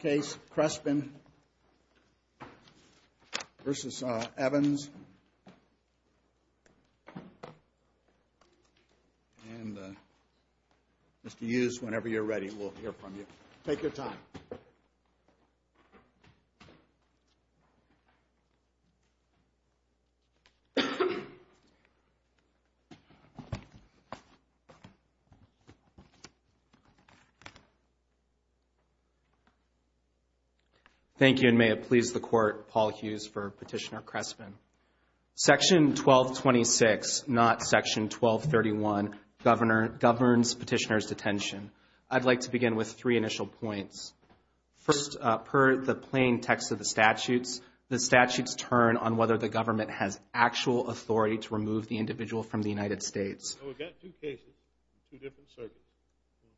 Crespin v. Evans and Mr. Hughes, whenever you're ready, we'll hear from you. Take your time. Thank you, and may it please the Court, Paul Hughes for Petitioner Crespin. Section 1226, not Section 1231, governs petitioner's detention. I'd like to begin with three initial points. First, per the plain text of the statutes, the statutes turn on whether the government has actual authority to remove the individual from the United States. We've got two cases, two different circuits,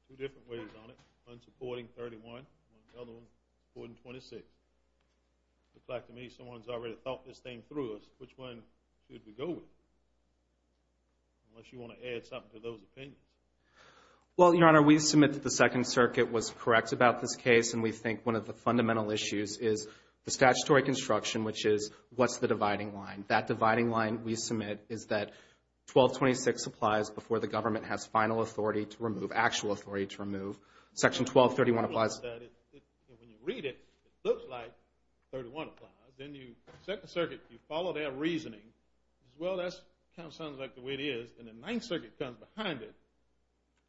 two different ways on it. One's supporting 31, the other one supporting 26. It looks like to me someone's already thought this thing through. Which one should we go with, unless you want to add something to those opinions? Well, Your Honor, we submit that the Second Circuit was correct about this case, and we think one of the fundamental issues is the statutory construction, which is what's the dividing line. That dividing line we submit is that 1226 applies before the government has final authority to remove, actual authority to remove. Section 1231 applies. When you read it, it looks like 31 applies. Then you, Second Circuit, you follow their reasoning. Well, that kind of sounds like the way it is. And then Ninth Circuit comes behind it,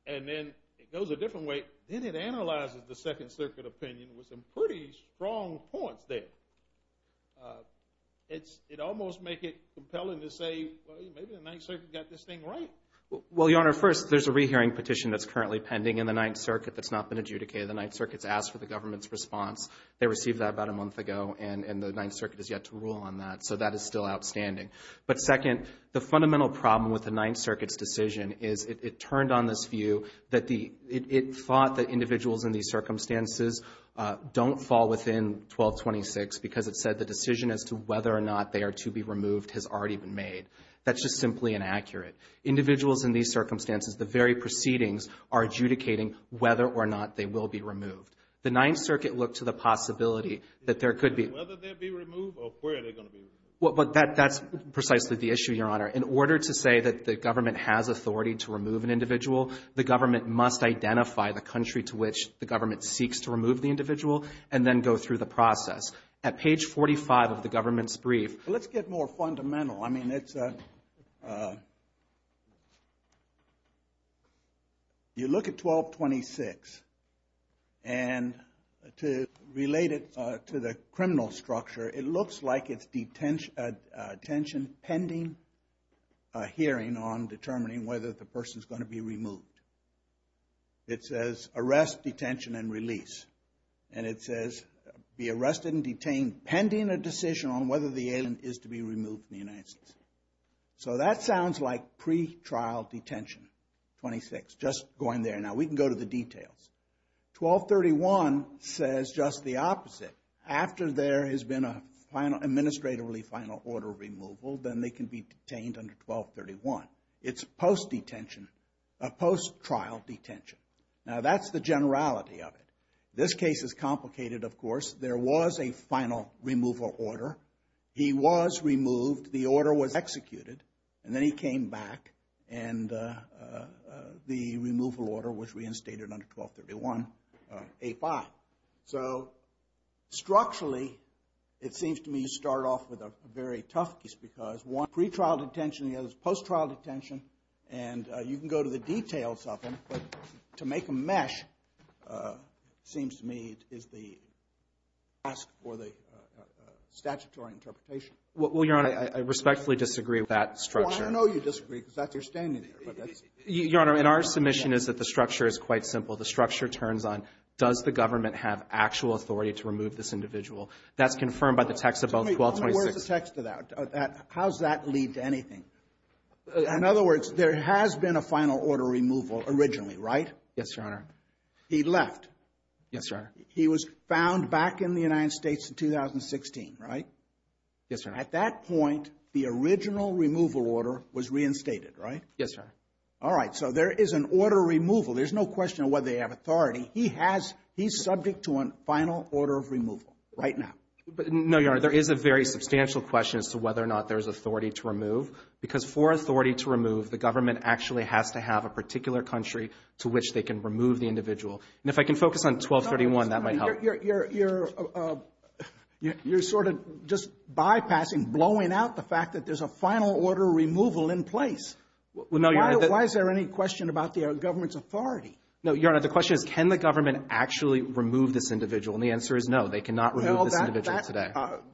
and then it goes a different way. Then it analyzes the Second Circuit opinion with some pretty strong points there. It almost makes it compelling to say, well, maybe the Ninth Circuit got this thing right. Well, Your Honor, first, there's a rehearing petition that's currently pending in the Ninth Circuit that's not been adjudicated. The Ninth Circuit's asked for the government's response. They received that about a month ago, and the Ninth Circuit has yet to rule on that. So that is still outstanding. But, second, the fundamental problem with the Ninth Circuit's decision is it turned on this view that the ‑‑ it thought that individuals in these circumstances don't fall within 1226 because it said the decision as to whether or not they are to be removed has already been made. That's just simply inaccurate. Individuals in these circumstances, the very proceedings are adjudicating whether or not they will be removed. The Ninth Circuit looked to the possibility that there could be ‑‑ Whether they'd be removed or where they're going to be removed. But that's precisely the issue, Your Honor. In order to say that the government has authority to remove an individual, the government must identify the country to which the government seeks to remove the individual and then go through the process. At page 45 of the government's brief ‑‑ Let's get more fundamental. I mean, it's a ‑‑ You look at 1226. And to relate it to the criminal structure, it looks like it's detention pending a hearing on determining whether the person is going to be removed. It says, arrest, detention, and release. And it says, be arrested and detained pending a decision on whether the alien is to be removed from the United States. So that sounds like pretrial detention, 26, just going there. Now, we can go to the details. 1231 says just the opposite. After there has been an administratively final order of removal, then they can be detained under 1231. It's post detention, a post trial detention. Now, that's the generality of it. This case is complicated, of course. There was a final removal order. He was removed. The order was executed. And then he came back. And the removal order was reinstated under 1231A5. So, structurally, it seems to me you start off with a very tough case because one, pretrial detention. The other is post trial detention. And you can go to the details of them. But to make a mesh seems to me is the task for the statutory interpretation. Well, Your Honor, I respectfully disagree with that structure. Well, I know you disagree because that's your standing there. Your Honor, and our submission is that the structure is quite simple. The structure turns on does the government have actual authority to remove this individual. That's confirmed by the text of both 1226. Wait. Where's the text of that? How does that lead to anything? In other words, there has been a final order removal originally, right? Yes, Your Honor. He left. Yes, Your Honor. He was found back in the United States in 2016, right? Yes, Your Honor. At that point, the original removal order was reinstated, right? Yes, Your Honor. All right. So, there is an order removal. There's no question of whether they have authority. He has. He's subject to a final order of removal right now. No, Your Honor. There is a very substantial question as to whether or not there's authority to remove. Because for authority to remove, the government actually has to have a particular country to which they can remove the individual. And if I can focus on 1231, that might help. You're sort of just bypassing, blowing out the fact that there's a final order removal in place. Well, no, Your Honor. Why is there any question about the government's authority? No, Your Honor. The question is can the government actually remove this individual? And the answer is no. They cannot remove this individual today.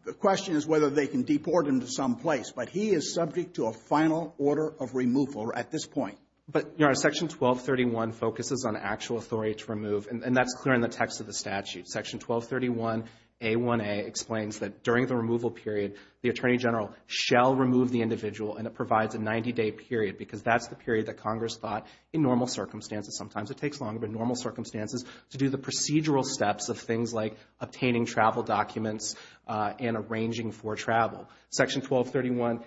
The question is whether they can deport him to some place. But he is subject to a final order of removal at this point. But, Your Honor, Section 1231 focuses on actual authority to remove. And that's clear in the text of the statute. Section 1231A1A explains that during the removal period, the Attorney General shall remove the individual. And it provides a 90-day period because that's the period that Congress thought, in normal circumstances, and sometimes it takes longer than normal circumstances, to do the procedural steps of things like obtaining travel documents and arranging for travel. Section 1231A1B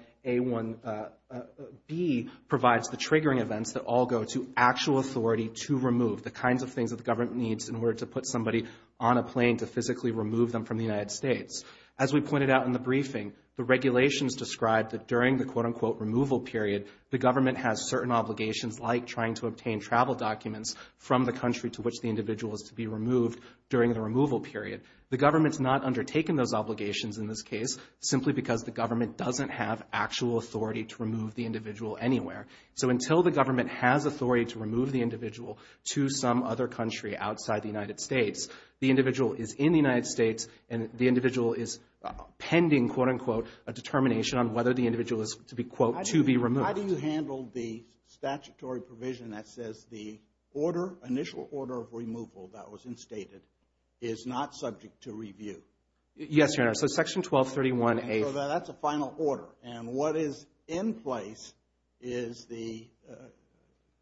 provides the triggering events that all go to actual authority to remove, the kinds of things that the government needs in order to put somebody on a plane to physically remove them from the United States. As we pointed out in the briefing, the regulations describe that during the quote-unquote removal period, the government has certain obligations like trying to obtain travel documents from the country to which the individual is to be removed during the removal period. The government has not undertaken those obligations in this case, simply because the government doesn't have actual authority to remove the individual anywhere. So until the government has authority to remove the individual to some other country outside the United States, the individual is in the United States, and the individual is pending, quote-unquote, a determination on whether the individual is to be, quote, to be removed. How do you handle the statutory provision that says the order, initial order of removal that was instated, is not subject to review? Yes, Your Honor, so Section 1231A. So that's a final order, and what is in place is the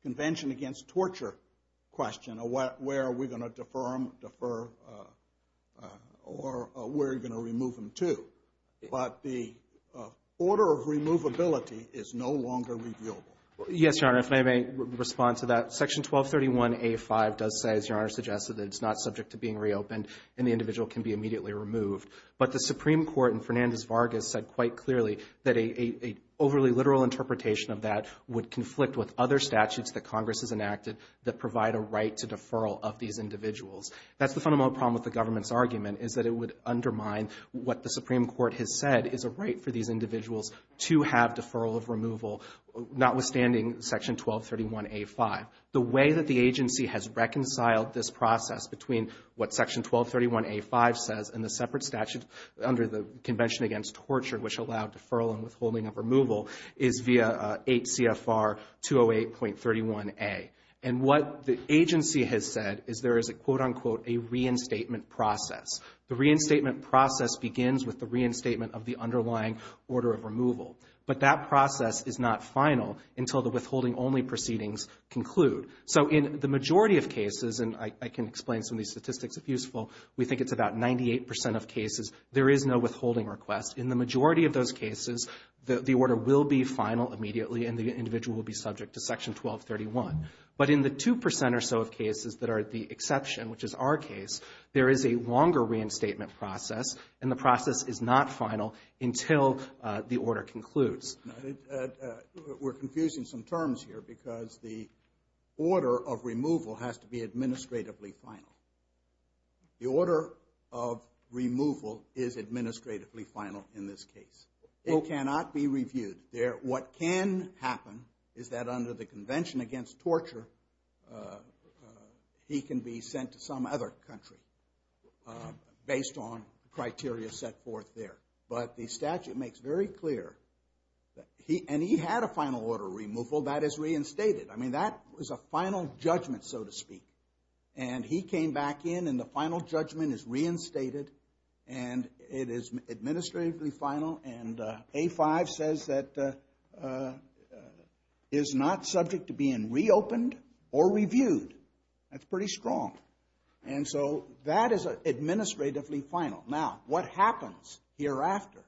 Convention Against Torture question, where are we going to defer them, defer, or where are you going to remove them to? But the order of removability is no longer reviewable. Yes, Your Honor, if I may respond to that. Section 1231A.5 does say, as Your Honor suggested, that it's not subject to being reopened, and the individual can be immediately removed. But the Supreme Court in Fernandez-Vargas said quite clearly that an overly literal interpretation of that would conflict with other statutes that Congress has enacted that provide a right to deferral of these individuals. That's the fundamental problem with the government's argument, is that it would undermine what the Supreme Court has said is a right for these individuals to have deferral of removal, notwithstanding Section 1231A.5. The way that the agency has reconciled this process between what Section 1231A.5 says and the separate statute under the Convention Against Torture, which allowed deferral and withholding of removal, is via 8 CFR 208.31a. And what the agency has said is there is a, quote, unquote, a reinstatement process. The reinstatement process begins with the reinstatement of the underlying order of removal. But that process is not final until the withholding-only proceedings conclude. So in the majority of cases, and I can explain some of these statistics if useful, we think it's about 98% of cases, there is no withholding request. In the majority of those cases, the order will be final immediately and the individual will be subject to Section 1231. But in the 2% or so of cases that are the exception, which is our case, there is a longer reinstatement process, and the process is not final until the order concludes. We're confusing some terms here because the order of removal has to be administratively final. The order of removal is administratively final in this case. It cannot be reviewed. What can happen is that under the Convention Against Torture, he can be sent to some other country based on criteria set forth there. But the statute makes very clear that he had a final order of removal that is reinstated. I mean, that was a final judgment, so to speak. And he came back in, and the final judgment is reinstated, and it is administratively final. And A-5 says that is not subject to being reopened or reviewed. That's pretty strong. And so that is administratively final. Now, what happens hereafter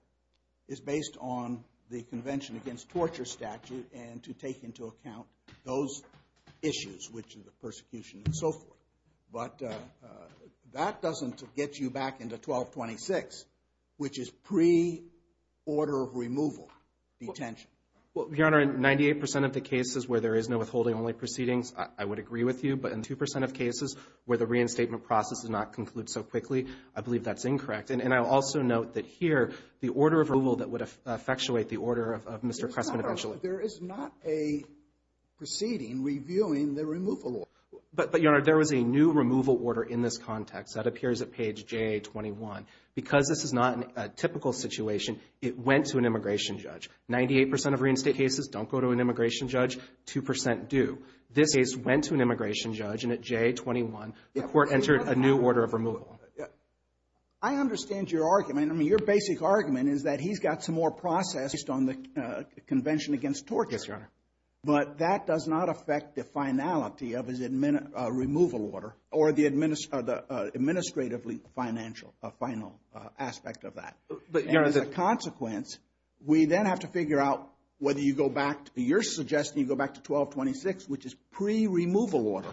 is based on the Convention Against Torture statute and to take into account those issues, which are the persecution and so forth. But that doesn't get you back into 1226, which is pre-order of removal detention. Well, Your Honor, in 98% of the cases where there is no withholding-only proceedings, I would agree with you. But in 2% of cases where the reinstatement process does not conclude so quickly, I believe that's incorrect. And I'll also note that here the order of removal that would effectuate the order of Mr. Cressman eventually. But there is not a proceeding reviewing the removal order. But, Your Honor, there was a new removal order in this context. That appears at page JA-21. Because this is not a typical situation, it went to an immigration judge. Ninety-eight percent of reinstate cases don't go to an immigration judge, 2% do. This case went to an immigration judge, and at JA-21, the court entered a new order of removal. I understand your argument. I mean, your basic argument is that he's got some more process based on the Convention Against Torture. Yes, Your Honor. But that does not affect the finality of his removal order or the administratively financial final aspect of that. But, Your Honor, the — And as a consequence, we then have to figure out whether you go back to your suggestion, you go back to 1226, which is pre-removal order,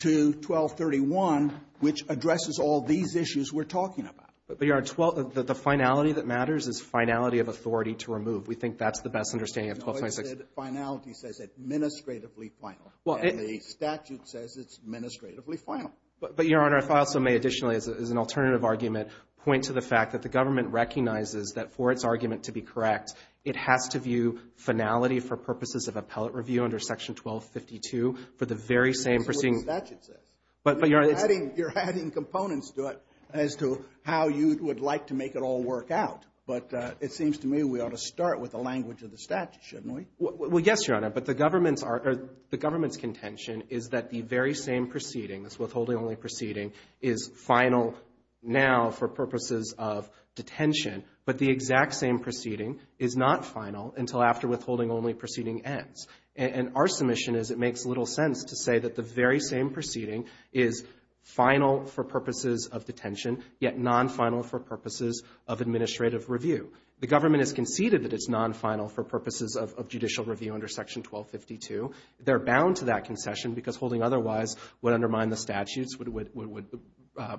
to 1231, which addresses all these issues we're talking about. But, Your Honor, the finality that matters is finality of authority to remove. We think that's the best understanding of 1226. No, I said finality says administratively final. Well, it — And the statute says it's administratively final. But, Your Honor, if I also may additionally, as an alternative argument, point to the fact that the government recognizes that for its argument to be correct, it has to view finality for purposes of appellate review under Section 1252 for the very same proceeding. That's what the statute says. But, Your Honor — You're adding components to it as to how you would like to make it all work out. But it seems to me we ought to start with the language of the statute, shouldn't we? Well, yes, Your Honor. But the government's contention is that the very same proceeding, this withholding-only proceeding, is final now for purposes of detention. But the exact same proceeding is not final until after withholding-only proceeding ends. And our submission is it makes little sense to say that the very same proceeding is final for purposes of detention, yet non-final for purposes of administrative review. The government has conceded that it's non-final for purposes of judicial review under Section 1252. They're bound to that concession because holding otherwise would undermine the statutes, would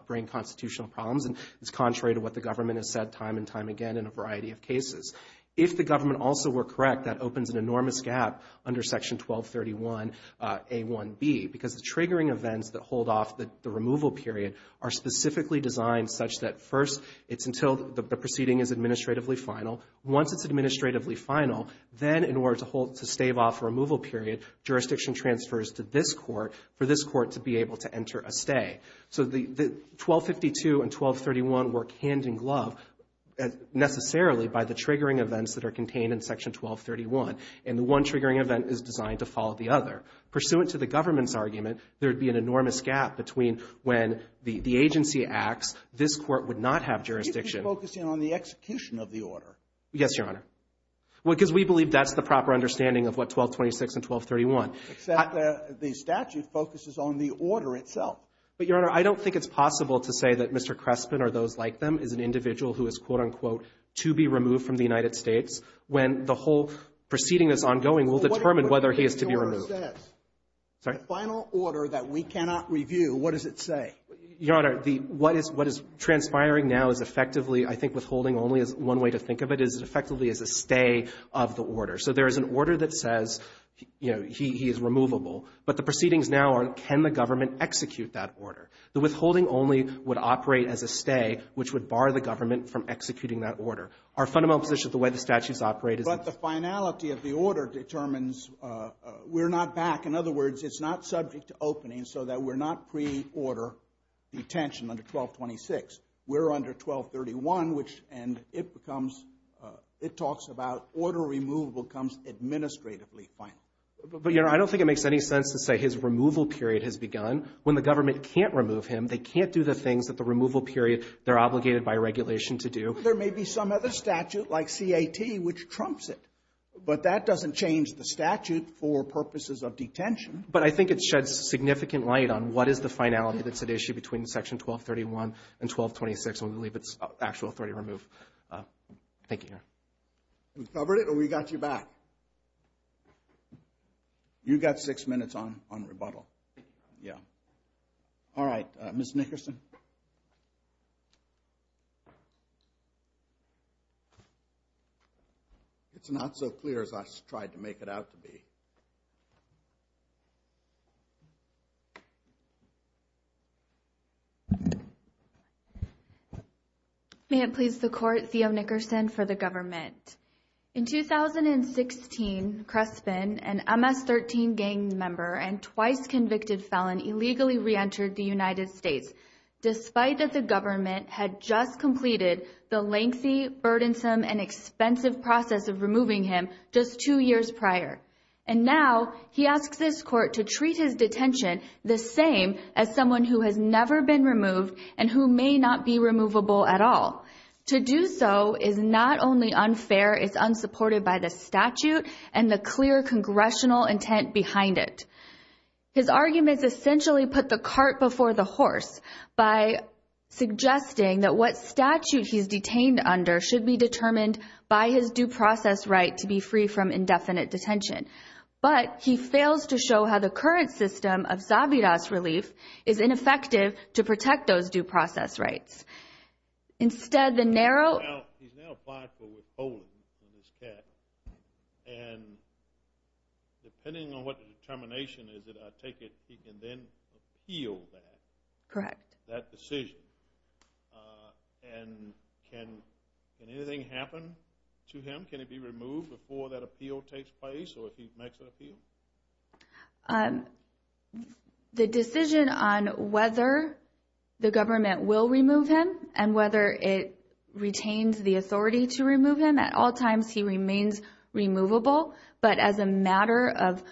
bring constitutional problems, and it's contrary to what the government If the government also were correct, that opens an enormous gap under Section 1231a1b, because the triggering events that hold off the removal period are specifically designed such that, first, it's until the proceeding is administratively final. Once it's administratively final, then in order to hold — to stave off a removal period, jurisdiction transfers to this Court for this Court to be able to enter a stay. So the 1252 and 1231 work hand-in-glove necessarily by the triggering events that are contained in Section 1231, and the one triggering event is designed to follow the other. Pursuant to the government's argument, there would be an enormous gap between when the agency acts, this Court would not have jurisdiction. Sotomayor, focusing on the execution of the order. Yes, Your Honor. Well, because we believe that's the proper understanding of what 1226 and 1231. Except the statute focuses on the order itself. But, Your Honor, I don't think it's possible to say that Mr. Crespin or those like them is an individual who is, quote, unquote, to be removed from the United States when the whole proceeding is ongoing. We'll determine whether he is to be removed. The final order that we cannot review, what does it say? Your Honor, what is transpiring now is effectively, I think withholding only is one way to think of it, is effectively is a stay of the order. So there is an order that says, you know, he is removable, but the proceedings now are, can the government execute that order? The withholding only would operate as a stay, which would bar the government from executing that order. Our fundamental position of the way the statutes operate is that the finality of the order determines we're not back. In other words, it's not subject to opening so that we're not pre-order detention under 1226. We're under 1231, which, and it becomes, it talks about order removal becomes administratively final. But, Your Honor, I don't think it makes any sense to say his removal period has begun. When the government can't remove him, they can't do the things that the removal period they're obligated by regulation to do. There may be some other statute, like CAT, which trumps it, but that doesn't change the statute for purposes of detention. But I think it sheds significant light on what is the finality that's at issue between Section 1231 and 1226 when we leave its actual authority to remove. Thank you, Your Honor. We covered it or we got you back? You got six minutes on rebuttal. Yeah. All right. Ms. Nickerson? It's not so clear as I tried to make it out to be. May it please the Court, Theo Nickerson for the government. In 2016, Crespin, an MS-13 gang member and twice convicted felon, illegally re-entered the United States, despite that the government had just completed the lengthy, burdensome, and expensive process of removing him just two years prior. And now he asks this court to treat his detention the same as someone who has never been removed and who may not be removable at all. To do so is not only unfair, it's unsupported by the statute and the clear congressional intent behind it. His arguments essentially put the cart before the horse by suggesting that what statute he's detained under should be determined by his due process right to be free from indefinite detention. But he fails to show how the current system of Zabiras relief is ineffective to protect those due process rights. Instead, the narrow... Well, he's now applied for withholding from his cat. And depending on what the determination is, I take it he can then appeal that. Correct. That decision. And can anything happen to him? Can he be removed before that appeal takes place or if he makes an appeal? The decision on whether the government will remove him and whether it retains the authority to remove him, at all times he remains removable. But as a matter of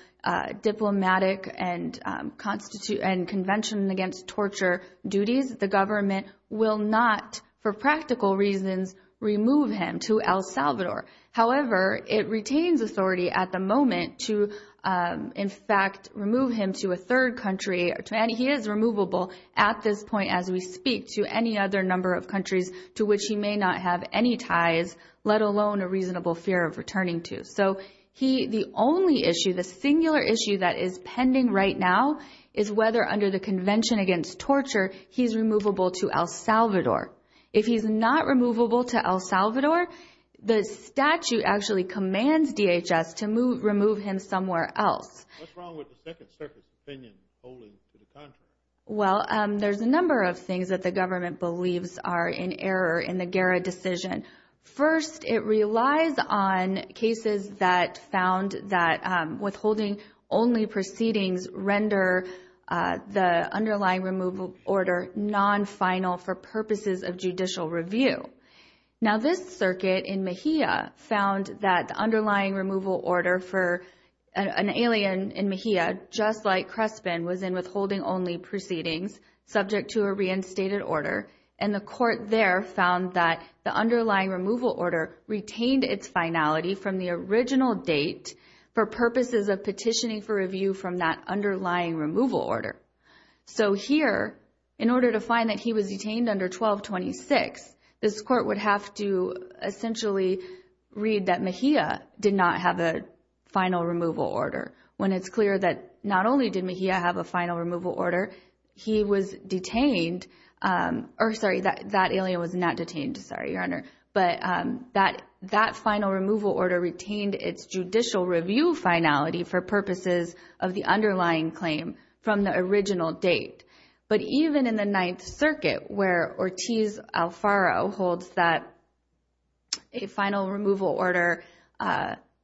diplomatic and convention against torture duties, the government will not, for practical reasons, remove him to El Salvador. However, it retains authority at the moment to, in fact, remove him to a third country and he is removable at this point as we speak to any other number of any ties, let alone a reasonable fear of returning to. So the only issue, the singular issue that is pending right now is whether under the convention against torture he's removable to El Salvador. If he's not removable to El Salvador, the statute actually commands DHS to remove him somewhere else. What's wrong with the Second Circuit's opinion holding to the contrary? Well, there's a number of things that the government believes are in error in the Guerra decision. First, it relies on cases that found that withholding only proceedings render the underlying removal order non-final for purposes of judicial review. Now, this circuit in Mejia found that the underlying removal order for an alien in Mejia, just like Crespin, was in withholding only proceedings subject to a reinstated order and the court there found that the underlying removal order retained its finality from the original date for purposes of petitioning for review from that underlying removal order. So here, in order to find that he was detained under 1226, this court would have to essentially read that Mejia did not have a final removal order when it's clear that not only did Mejia have a final removal order, he was detained or sorry, that alien was not detained. Sorry, Your Honor. But that final removal order retained its judicial review finality for purposes of the underlying claim from the original date. But even in the Ninth Circuit where Ortiz Alfaro holds that a final removal order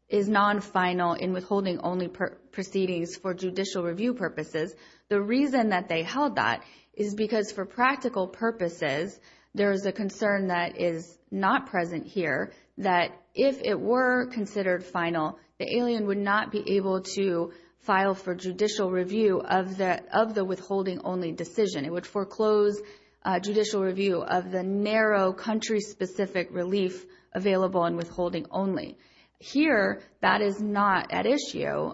is non-final in withholding only proceedings for judicial review purposes, the reason that they held that is because for practical purposes, there is a concern that is not present here that if it were considered final, the alien would not be able to file for judicial review of the withholding only decision. It would foreclose judicial review of the narrow country-specific relief available in withholding only. Here, that is not at issue.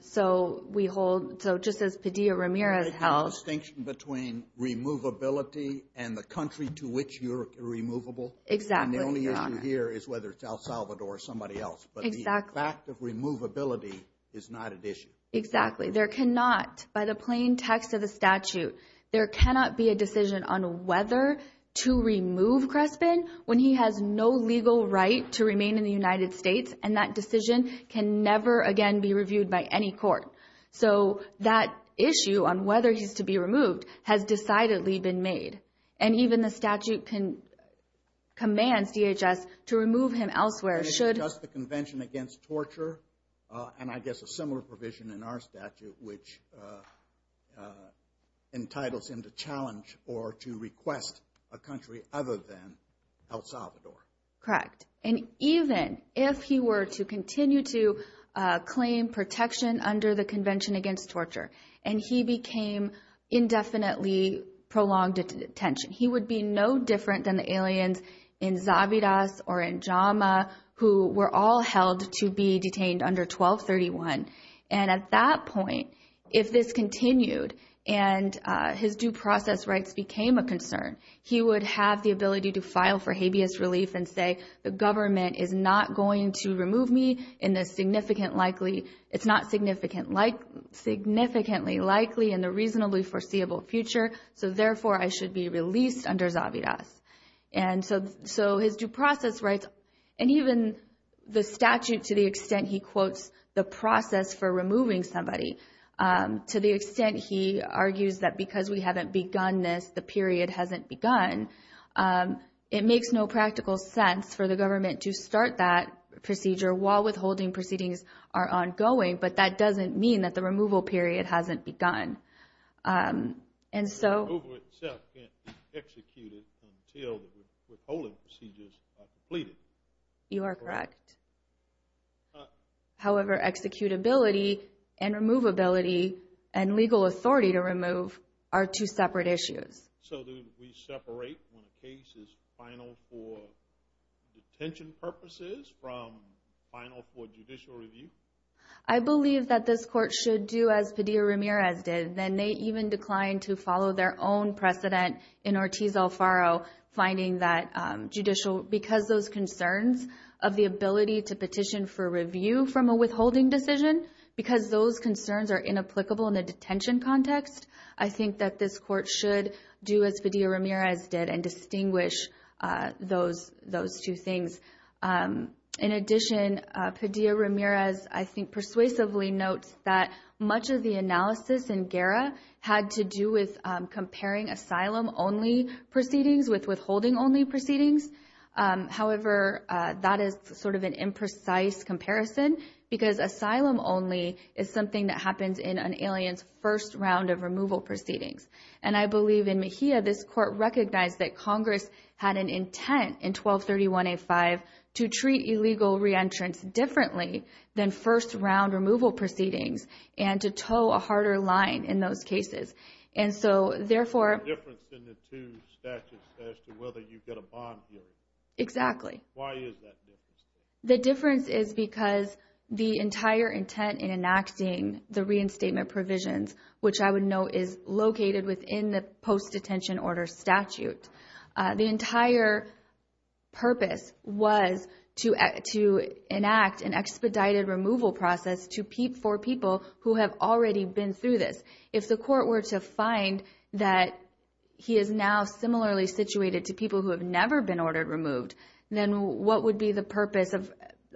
So we hold, so just as Padilla-Ramirez held. There's a distinction between removability and the country to which you're removable. Exactly, Your Honor. And the only issue here is whether it's El Salvador or somebody else. Exactly. But the fact of removability is not at issue. Exactly. There cannot, by the plain text of the statute, there cannot be a decision on a legal right to remain in the United States, and that decision can never, again, be reviewed by any court. So that issue on whether he's to be removed has decidedly been made. And even the statute commands DHS to remove him elsewhere should. It's just the Convention Against Torture, and I guess a similar provision in our statute which entitles him to challenge or to request a country other than El Salvador. Correct. And even if he were to continue to claim protection under the Convention Against Torture and he became indefinitely prolonged detention, he would be no different than the aliens in Zavidas or in Jama who were all held to be detained under 1231. And at that point, if this continued and his due process rights became a concern, he would have the ability to file for habeas relief and say, the government is not going to remove me in the significant likely, it's not significantly likely in the reasonably foreseeable future, so therefore I should be released under Zavidas. And so his due process rights, and even the statute to the extent he quotes the process for removing somebody, to the extent he argues that because we haven't begun, it makes no practical sense for the government to start that procedure while withholding proceedings are ongoing, but that doesn't mean that the removal period hasn't begun. And so the removal itself can't be executed until the withholding procedures are completed. You are correct. However, executability and removability and legal authority to remove are two separate issues. So do we separate when a case is final for detention purposes from final for judicial review? I believe that this court should do as Padilla Ramirez did, and they even declined to follow their own precedent in Ortiz Alfaro, finding that judicial, because those concerns of the ability to petition for review from a withholding decision, because those concerns are inapplicable in a detention context, I think that this court should do as Padilla Ramirez did and distinguish those two things. In addition, Padilla Ramirez, I think, persuasively notes that much of the analysis in GERA had to do with comparing asylum-only proceedings with withholding-only proceedings. However, that is sort of an imprecise comparison because asylum-only is something that happens in an alien's first round of removal proceedings. And I believe in Mejia, this court recognized that Congress had an intent in 1231A5 to treat illegal reentrance differently than first-round removal proceedings and to toe a harder line in those cases. And so, therefore – There's a difference in the two statutes as to whether you get a bond hearing. Exactly. Why is that different? The difference is because the entire intent in enacting the reinstatement provisions, which I would note is located within the post-detention order statute, the entire purpose was to enact an expedited removal process for people who have already been through this. If the court were to find that he is now similarly situated to people who have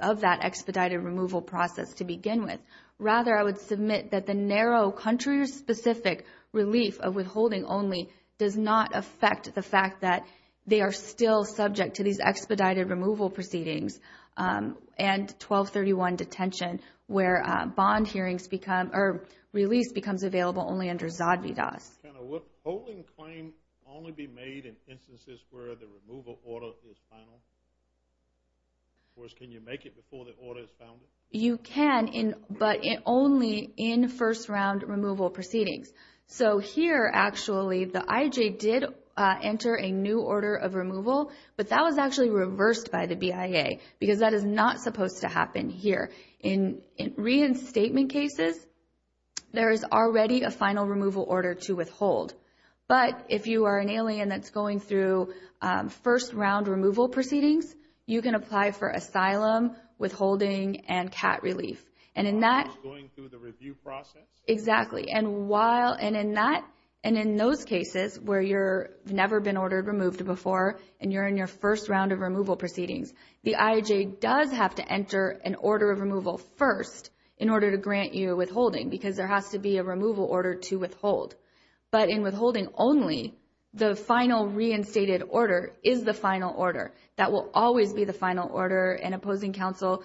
of that expedited removal process to begin with. Rather, I would submit that the narrow, country-specific relief of withholding-only does not affect the fact that they are still subject to these expedited removal proceedings and 1231 detention where bond hearings become – or release becomes available only under ZADVDAS. Can a withholding claim only be made in instances where the removal order is final? Of course, can you make it before the order is founded? You can, but only in first-round removal proceedings. So here, actually, the IJ did enter a new order of removal, but that was actually reversed by the BIA because that is not supposed to happen here. In reinstatement cases, there is already a final removal order to withhold. But if you are an alien that's going through first-round removal proceedings, you can apply for asylum, withholding, and CAT relief. And in that – Going through the review process? Exactly. And while – and in that – and in those cases where you've never been ordered removed before and you're in your first round of removal proceedings, the IJ does have to enter an order of removal first in order to grant you withholding because there has to be a removal order to withhold. But in withholding only, the final reinstated order is the final order. That will always be the final order. And opposing counsel,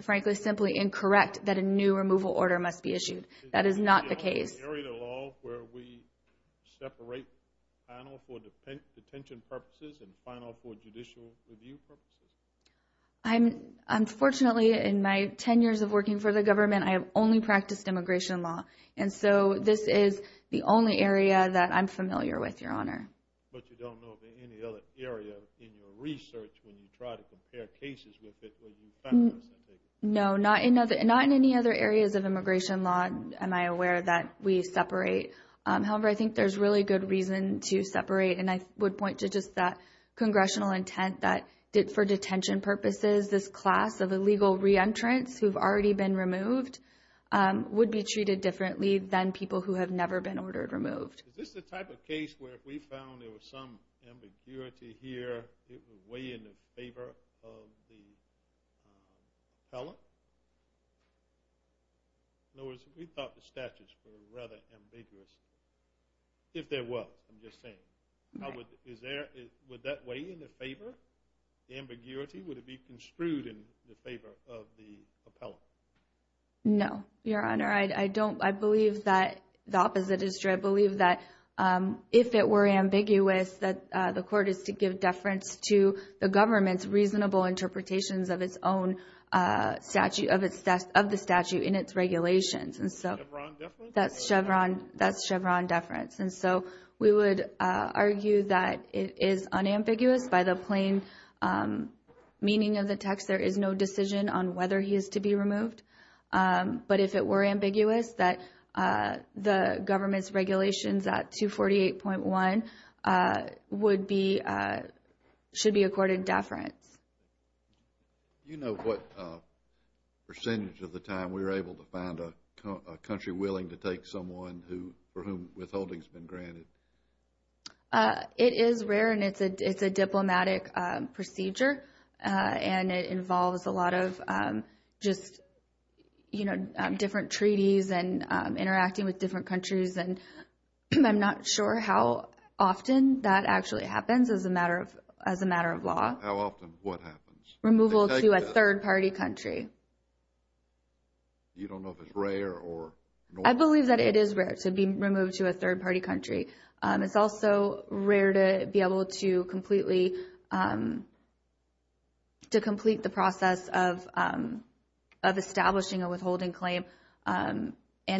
frankly, simply incorrect that a new removal order must be issued. That is not the case. Is there an area of the law where we separate final for detention purposes and final for judicial review purposes? Unfortunately, in my 10 years of working for the government, I have only practiced immigration law. And so this is the only area that I'm familiar with, Your Honor. But you don't know of any other area in your research when you try to compare cases with it where you find the same thing? No, not in any other areas of immigration law am I aware that we separate. However, I think there's really good reason to separate, and I would point to just that congressional intent that for detention purposes, this class of illegal re-entrants who have already been removed would be treated differently than people who have never been ordered removed. Is this the type of case where if we found there was some ambiguity here, it was way in the favor of the appellant? In other words, we thought the statutes were rather ambiguous. If there was, I'm just saying. Would that weigh in the favor, the ambiguity? Would it be construed in the favor of the appellant? No, Your Honor. I believe that the opposite is true. I believe that if it were ambiguous, that the court is to give deference to the government's reasonable interpretations of the statute in its regulations. Chevron deference? That's Chevron deference. We would argue that it is unambiguous by the plain meaning of the text. There is no decision on whether he is to be removed. But if it were ambiguous, that the government's regulations at 248.1 should be accorded deference. Do you know what percentage of the time we were able to find a country willing to take someone for whom withholding has been granted? It is rare, and it's a diplomatic procedure. And it involves a lot of just, you know, different treaties and interacting with different countries. And I'm not sure how often that actually happens as a matter of law. How often? What happens? Removal to a third-party country. You don't know if it's rare or normal? I believe that it is rare to be removed to a third-party country. It's also rare to be able to complete the process of establishing a withholding claim and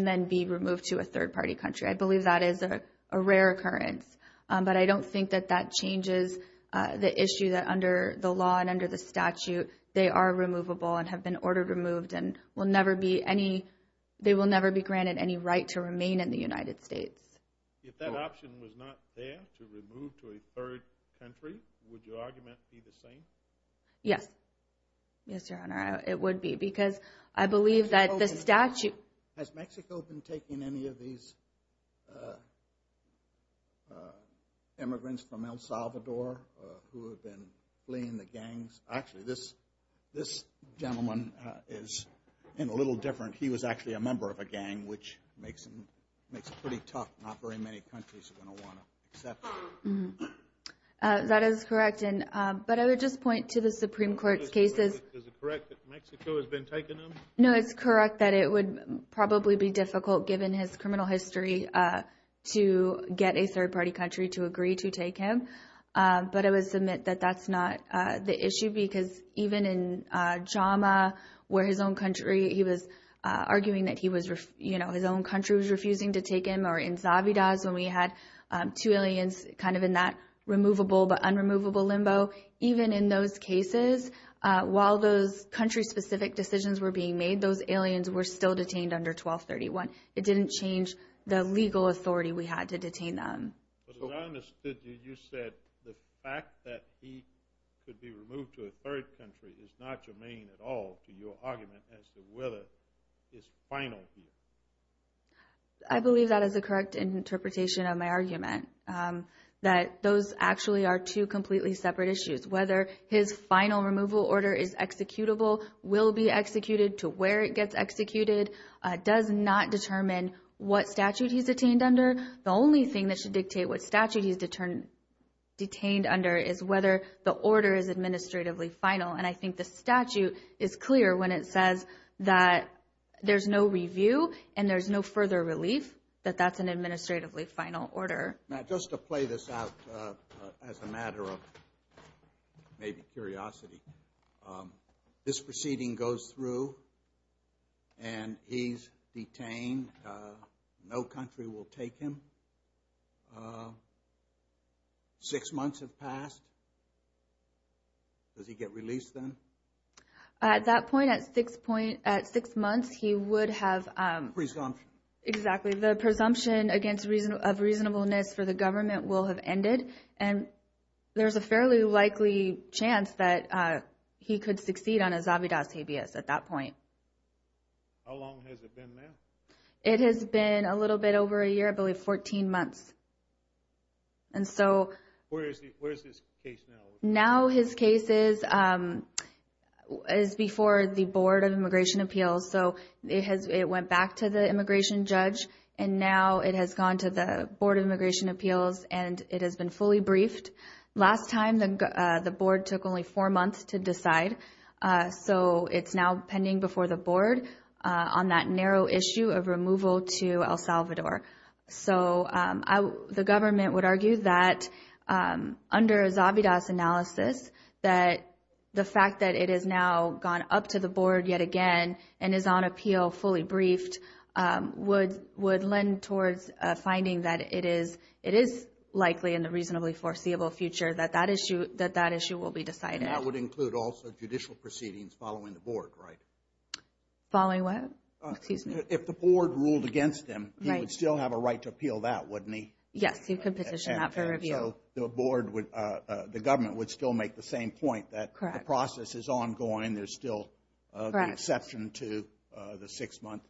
then be removed to a third-party country. I believe that is a rare occurrence. But I don't think that that changes the issue that under the law and under the statute they are removable and have been ordered removed and they will never be granted any right to remain in the United States. If that option was not there, to remove to a third country, would your argument be the same? Yes. Yes, Your Honor, it would be. Because I believe that the statute— Has Mexico been taking any of these immigrants from El Salvador who have been fleeing the gangs? Actually, this gentleman is a little different. He was actually a member of a gang, which makes it pretty tough. Not very many countries are going to want to accept him. That is correct. But I would just point to the Supreme Court's cases. Is it correct that Mexico has been taking them? No, it's correct that it would probably be difficult, given his criminal history, to get a third-party country to agree to take him. But I would submit that that's not the issue because even in JAMA, where his own country was refusing to take him, or in Zavidas when we had two aliens kind of in that removable but unremovable limbo, even in those cases, while those country-specific decisions were being made, those aliens were still detained under 1231. It didn't change the legal authority we had to detain them. But as I understood you, you said the fact that he could be removed to a third country is not germane at all to your argument as to whether it's final here. I believe that is a correct interpretation of my argument, that those actually are two completely separate issues. Whether his final removal order is executable, will be executed, to where it gets executed, does not determine what statute he's detained under. The only thing that should dictate what statute he's detained under is whether the order is administratively final. And I think the statute is clear when it says that there's no review and there's no further relief, that that's an administratively final order. Matt, just to play this out as a matter of maybe curiosity. This proceeding goes through and he's detained. No country will take him. Six months have passed. Does he get released then? At that point, at six months, he would have... Presumption. Exactly. The presumption of reasonableness for the government will have ended, and there's a fairly likely chance that he could succeed on a Zabidas habeas at that point. How long has it been now? It has been a little bit over a year, I believe 14 months. And so... Where is his case now? Now his case is before the Board of Immigration Appeals. So it went back to the immigration judge, and now it has gone to the Board of Immigration Appeals and it has been fully briefed. Last time the board took only four months to decide, so it's now pending before the board on that narrow issue of removal to El Salvador. So the government would argue that under a Zabidas analysis, that the fact that it has now gone up to the board yet again and is on appeal fully briefed would lend towards a finding that it is likely, in the reasonably foreseeable future, that that issue will be decided. And that would include also judicial proceedings following the board, right? Following what? Excuse me. If the board ruled against him, he would still have a right to appeal that, wouldn't he? Yes, he could petition that for review. And so the government would still make the same point that the process is ongoing, there's still the exception to the six-month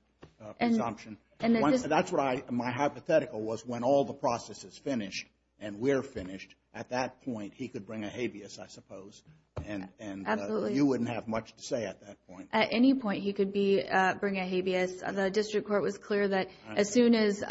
presumption. That's what my hypothetical was. When all the process is finished and we're finished, at that point he could bring a habeas, I suppose, and you wouldn't have much to say at that point. At any point he could bring a habeas. The district court was clear that as soon as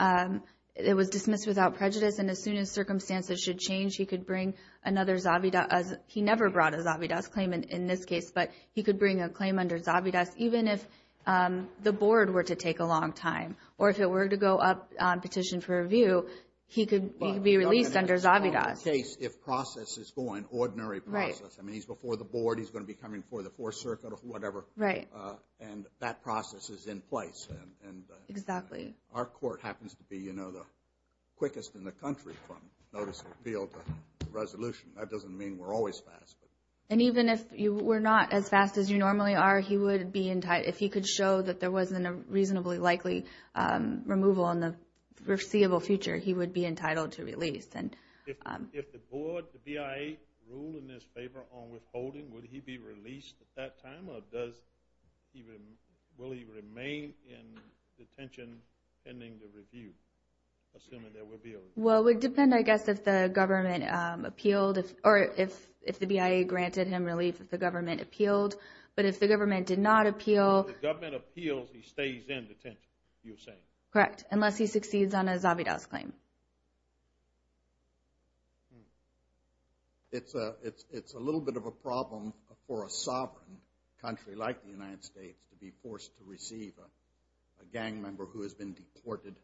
it was dismissed without prejudice and as soon as circumstances should change, he could bring another Zabidas. He never brought a Zabidas claim in this case, but he could bring a claim under Zabidas, even if the board were to take a long time. Or if it were to go up on petition for review, he could be released under Zabidas. If process is going, ordinary process. I mean, he's before the board, he's going to be coming before the Fourth Circuit or whatever. Right. And that process is in place. Exactly. Our court happens to be the quickest in the country from notice of appeal to resolution. That doesn't mean we're always fast. And even if you were not as fast as you normally are, if he could show that there wasn't a reasonably likely removal in the foreseeable future, he would be entitled to release. If the board, the BIA, ruled in his favor on withholding, would he be released at that time? Or will he remain in detention pending the review, assuming there will be a release? Well, it would depend, I guess, if the government appealed or if the BIA granted him relief, if the government appealed. But if the government did not appeal— If the government appeals, he stays in detention, you're saying? Correct, unless he succeeds on a Zabitows claim. It's a little bit of a problem for a sovereign country like the United States to be forced to receive a gang member who has been deported.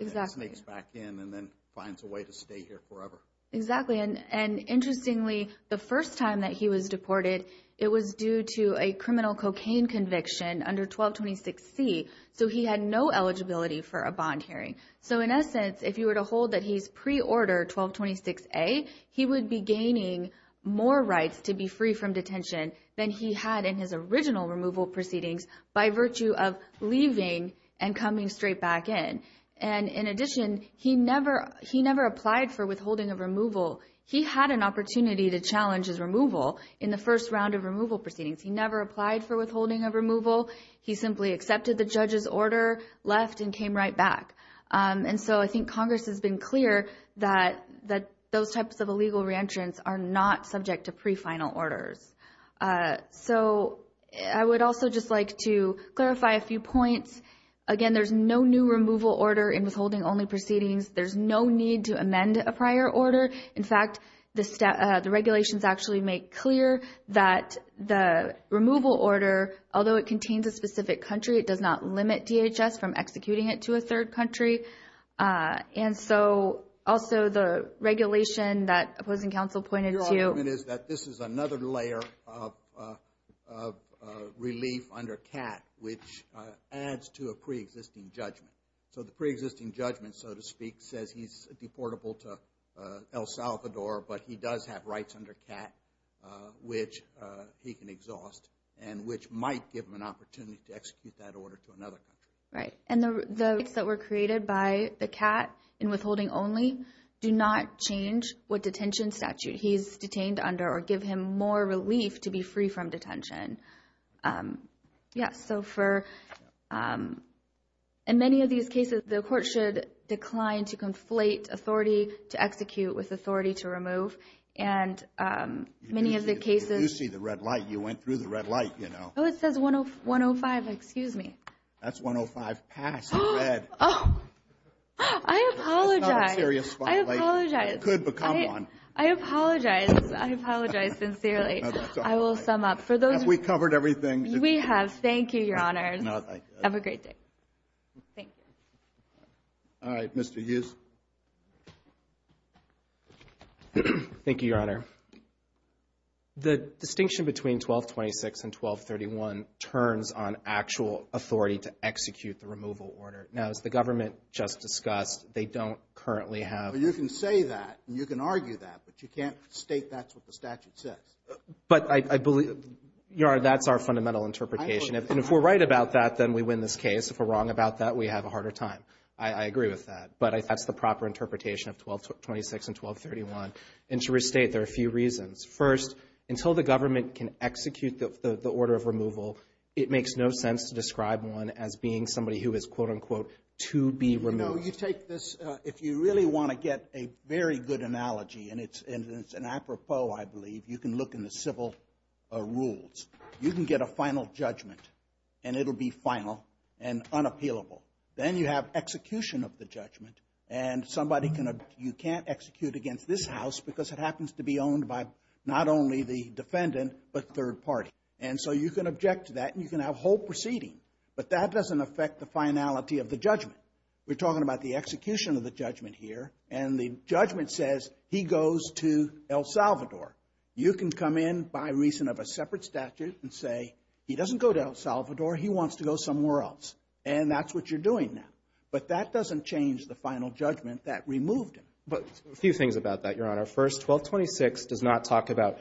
Exactly. Snakes back in and then finds a way to stay here forever. Exactly. And interestingly, the first time that he was deported, it was due to a criminal cocaine conviction under 1226C. So he had no eligibility for a bond hearing. So in essence, if you were to hold that he's pre-order 1226A, he would be gaining more rights to be free from detention than he had in his original removal proceedings by virtue of leaving and coming straight back in. And in addition, he never applied for withholding of removal. He had an opportunity to challenge his removal in the first round of removal proceedings. He never applied for withholding of removal. He simply accepted the judge's order, left, and came right back. And so I think Congress has been clear that those types of illegal re-entrants are not subject to pre-final orders. So I would also just like to clarify a few points. Again, there's no new removal order in withholding only proceedings. There's no need to amend a prior order. In fact, the regulations actually make clear that the removal order, although it contains a specific country, it does not limit DHS from executing it to a third country. And so also the regulation that opposing counsel pointed to. Your argument is that this is another layer of relief under CAT, which adds to a pre-existing judgment. So the pre-existing judgment, so to speak, says he's deportable to El Salvador, but he does have rights under CAT, which he can exhaust and which might give him an opportunity to execute that order to another country. Right. And the rights that were created by the CAT in withholding only do not change what detention statute he's detained under or give him more relief to be free from detention. Yeah, so for many of these cases, the court should decline to conflate authority to execute with authority to remove. And many of the cases. You see the red light. You went through the red light, you know. Oh, it says 105. Excuse me. That's 105 past red. Oh, I apologize. That's not a serious violation. I apologize. It could become one. I apologize. I apologize sincerely. I will sum up. Have we covered everything? We have. Thank you, Your Honors. Have a great day. Thank you. All right. Mr. Hughes. Thank you, Your Honor. The distinction between 1226 and 1231 turns on actual authority to execute the removal order. Now, as the government just discussed, they don't currently have. Well, you can say that and you can argue that, but you can't state that's what the statute says. But I believe, Your Honor, that's our fundamental interpretation. And if we're right about that, then we win this case. If we're wrong about that, we have a harder time. I agree with that. But that's the proper interpretation of 1226 and 1231. And to restate, there are a few reasons. First, until the government can execute the order of removal, it makes no sense to describe one as being somebody who is, quote-unquote, to be removed. You know, you take this, if you really want to get a very good analogy, and it's an apropos, I believe, you can look in the civil rules. You can get a final judgment, and it will be final and unappealable. Then you have execution of the judgment, and you can't execute against this house because it happens to be owned by not only the defendant but third party. And so you can object to that, and you can have whole proceeding. But that doesn't affect the finality of the judgment. We're talking about the execution of the judgment here, and the judgment says he goes to El Salvador. You can come in by reason of a separate statute and say, he doesn't go to El Salvador, he wants to go somewhere else. And that's what you're doing now. But that doesn't change the final judgment that removed him. But a few things about that, Your Honor. First, 1226 does not talk about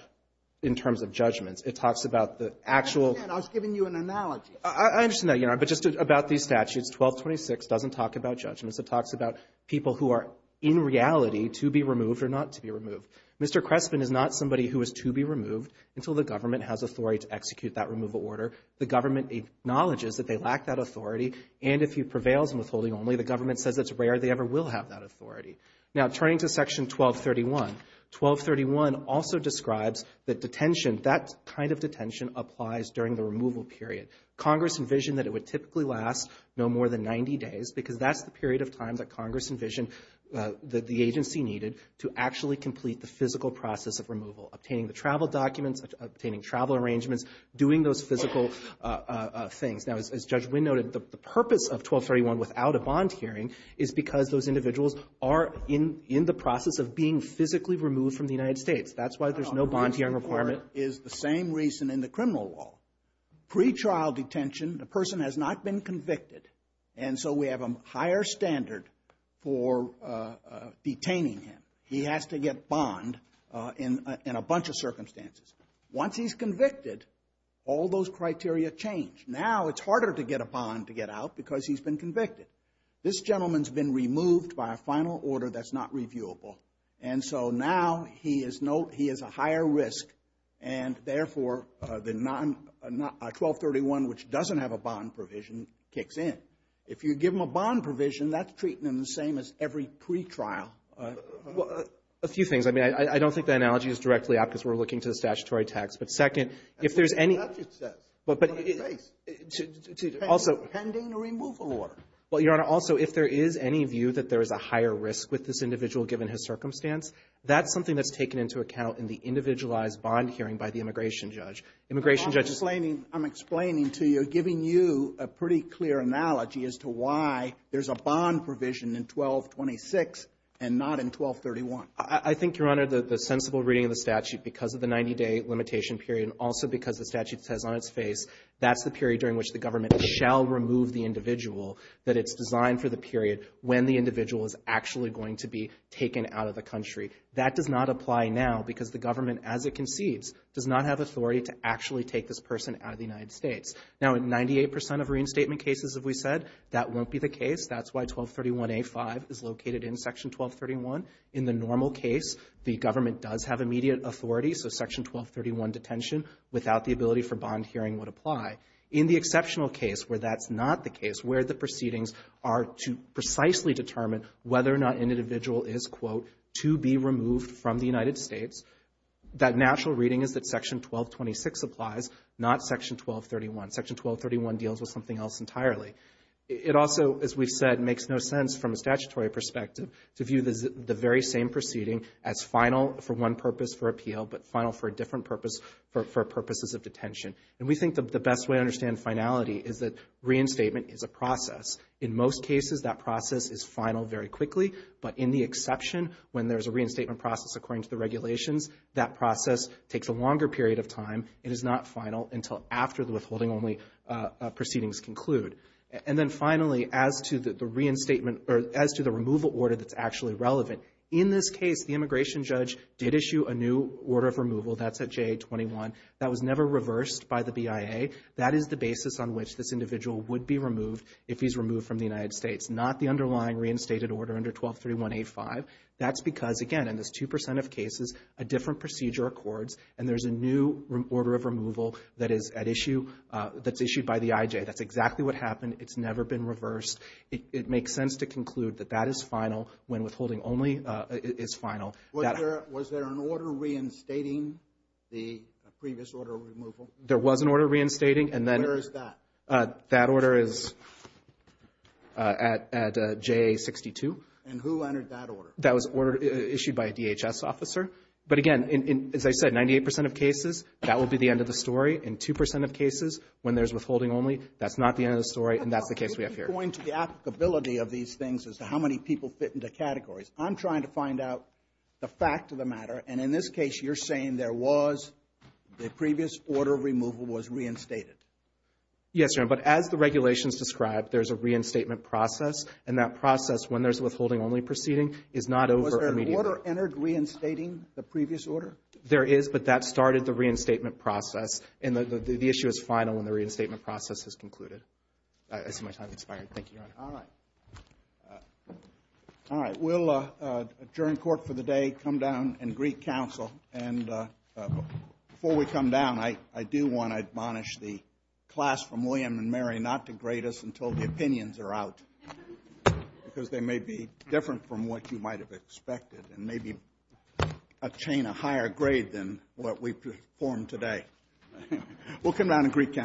in terms of judgments. It talks about the actual. I understand. I was giving you an analogy. I understand that, Your Honor. But just about these statutes, 1226 doesn't talk about judgments. It talks about people who are in reality to be removed or not to be removed. Mr. Crespin is not somebody who is to be removed until the government has authority to execute that removal order. The government acknowledges that they lack that authority, and if he prevails in withholding only, the government says it's rare they ever will have that authority. Now, turning to Section 1231, 1231 also describes that detention, that kind of detention, applies during the removal period. Congress envisioned that it would typically last no more than 90 days because that's the period of time that Congress envisioned that the agency needed to actually complete the physical process of removal, obtaining the travel documents, obtaining travel arrangements, doing those physical things. Now, as Judge Wynn noted, the purpose of 1231 without a bond hearing is because those individuals are in the process of being physically removed from the United States. That's why there's no bond hearing requirement. The reason for it is the same reason in the criminal law. Pre-trial detention, the person has not been convicted, and so we have a higher standard for detaining him. He has to get bond in a bunch of circumstances. Once he's convicted, all those criteria change. Now it's harder to get a bond to get out because he's been convicted. This gentleman's been removed by a final order that's not reviewable, and so now he is a higher risk, and therefore 1231, which doesn't have a bond provision, kicks in. If you give him a bond provision, that's treating him the same as every pre-trial. A few things. I mean, I don't think that analogy is directly apt because we're looking to the statutory text. But second, if there's any – That's what the judge says. On his face. Pending a removal order. Well, Your Honor, also, if there is any view that there is a higher risk with this individual given his circumstance, that's something that's taken into account in the individualized bond hearing by the immigration judge. Immigration judges – I'm explaining to you, giving you a pretty clear analogy as to why there's a bond provision in 1226 and not in 1231. I think, Your Honor, the sensible reading of the statute because of the 90-day limitation period and also because the statute says on its face that's the period during which the government shall remove the individual, that it's designed for the period when the individual is actually going to be taken out of the country. That does not apply now because the government, as it concedes, does not have authority to actually take this person out of the United States. Now, 98 percent of reinstatement cases, as we said, that won't be the case. That's why 1231A5 is located in Section 1231. In the normal case, the government does have immediate authority, so Section 1231 detention without the ability for bond hearing would apply. In the exceptional case where that's not the case, where the proceedings are to precisely determine whether or not an individual is, quote, to be removed from the United States, that natural reading is that Section 1226 applies, not Section 1231. Section 1231 deals with something else entirely. It also, as we've said, makes no sense from a statutory perspective to view the very same proceeding as final for one purpose for appeal but final for a different purpose for purposes of detention. And we think the best way to understand finality is that reinstatement is a process. In most cases, that process is final very quickly, but in the exception when there's a reinstatement process, it is not final until after the withholding-only proceedings conclude. And then finally, as to the removal order that's actually relevant, in this case, the immigration judge did issue a new order of removal. That's at JA-21. That was never reversed by the BIA. That is the basis on which this individual would be removed if he's removed from the United States, not the underlying reinstated order under 1231A5. That's because, again, in this 2 percent of cases, a different procedure accords, and there's a new order of removal that's issued by the IJ. That's exactly what happened. It's never been reversed. It makes sense to conclude that that is final when withholding-only is final. Was there an order reinstating the previous order of removal? There was an order reinstating. Where is that? That order is at JA-62. And who entered that order? That was issued by a DHS officer. But, again, as I said, 98 percent of cases, that will be the end of the story. In 2 percent of cases, when there's withholding-only, that's not the end of the story, and that's the case we have here. Point to the applicability of these things as to how many people fit into categories. I'm trying to find out the fact of the matter. And in this case, you're saying there was the previous order of removal was reinstated. Yes, Your Honor. But as the regulations describe, there's a reinstatement process, and that process, when there's withholding-only proceeding, is not over immediately. Was there an order entered reinstating the previous order? There is, but that started the reinstatement process, and the issue is final when the reinstatement process has concluded. I see my time has expired. Thank you, Your Honor. All right. We'll adjourn court for the day, come down and greet counsel. And before we come down, I do want to admonish the class from William & Mary not to grade us until the opinions are out, because they may be different from what you might have expected and maybe attain a higher grade than what we performed today. We'll come down and greet counsel.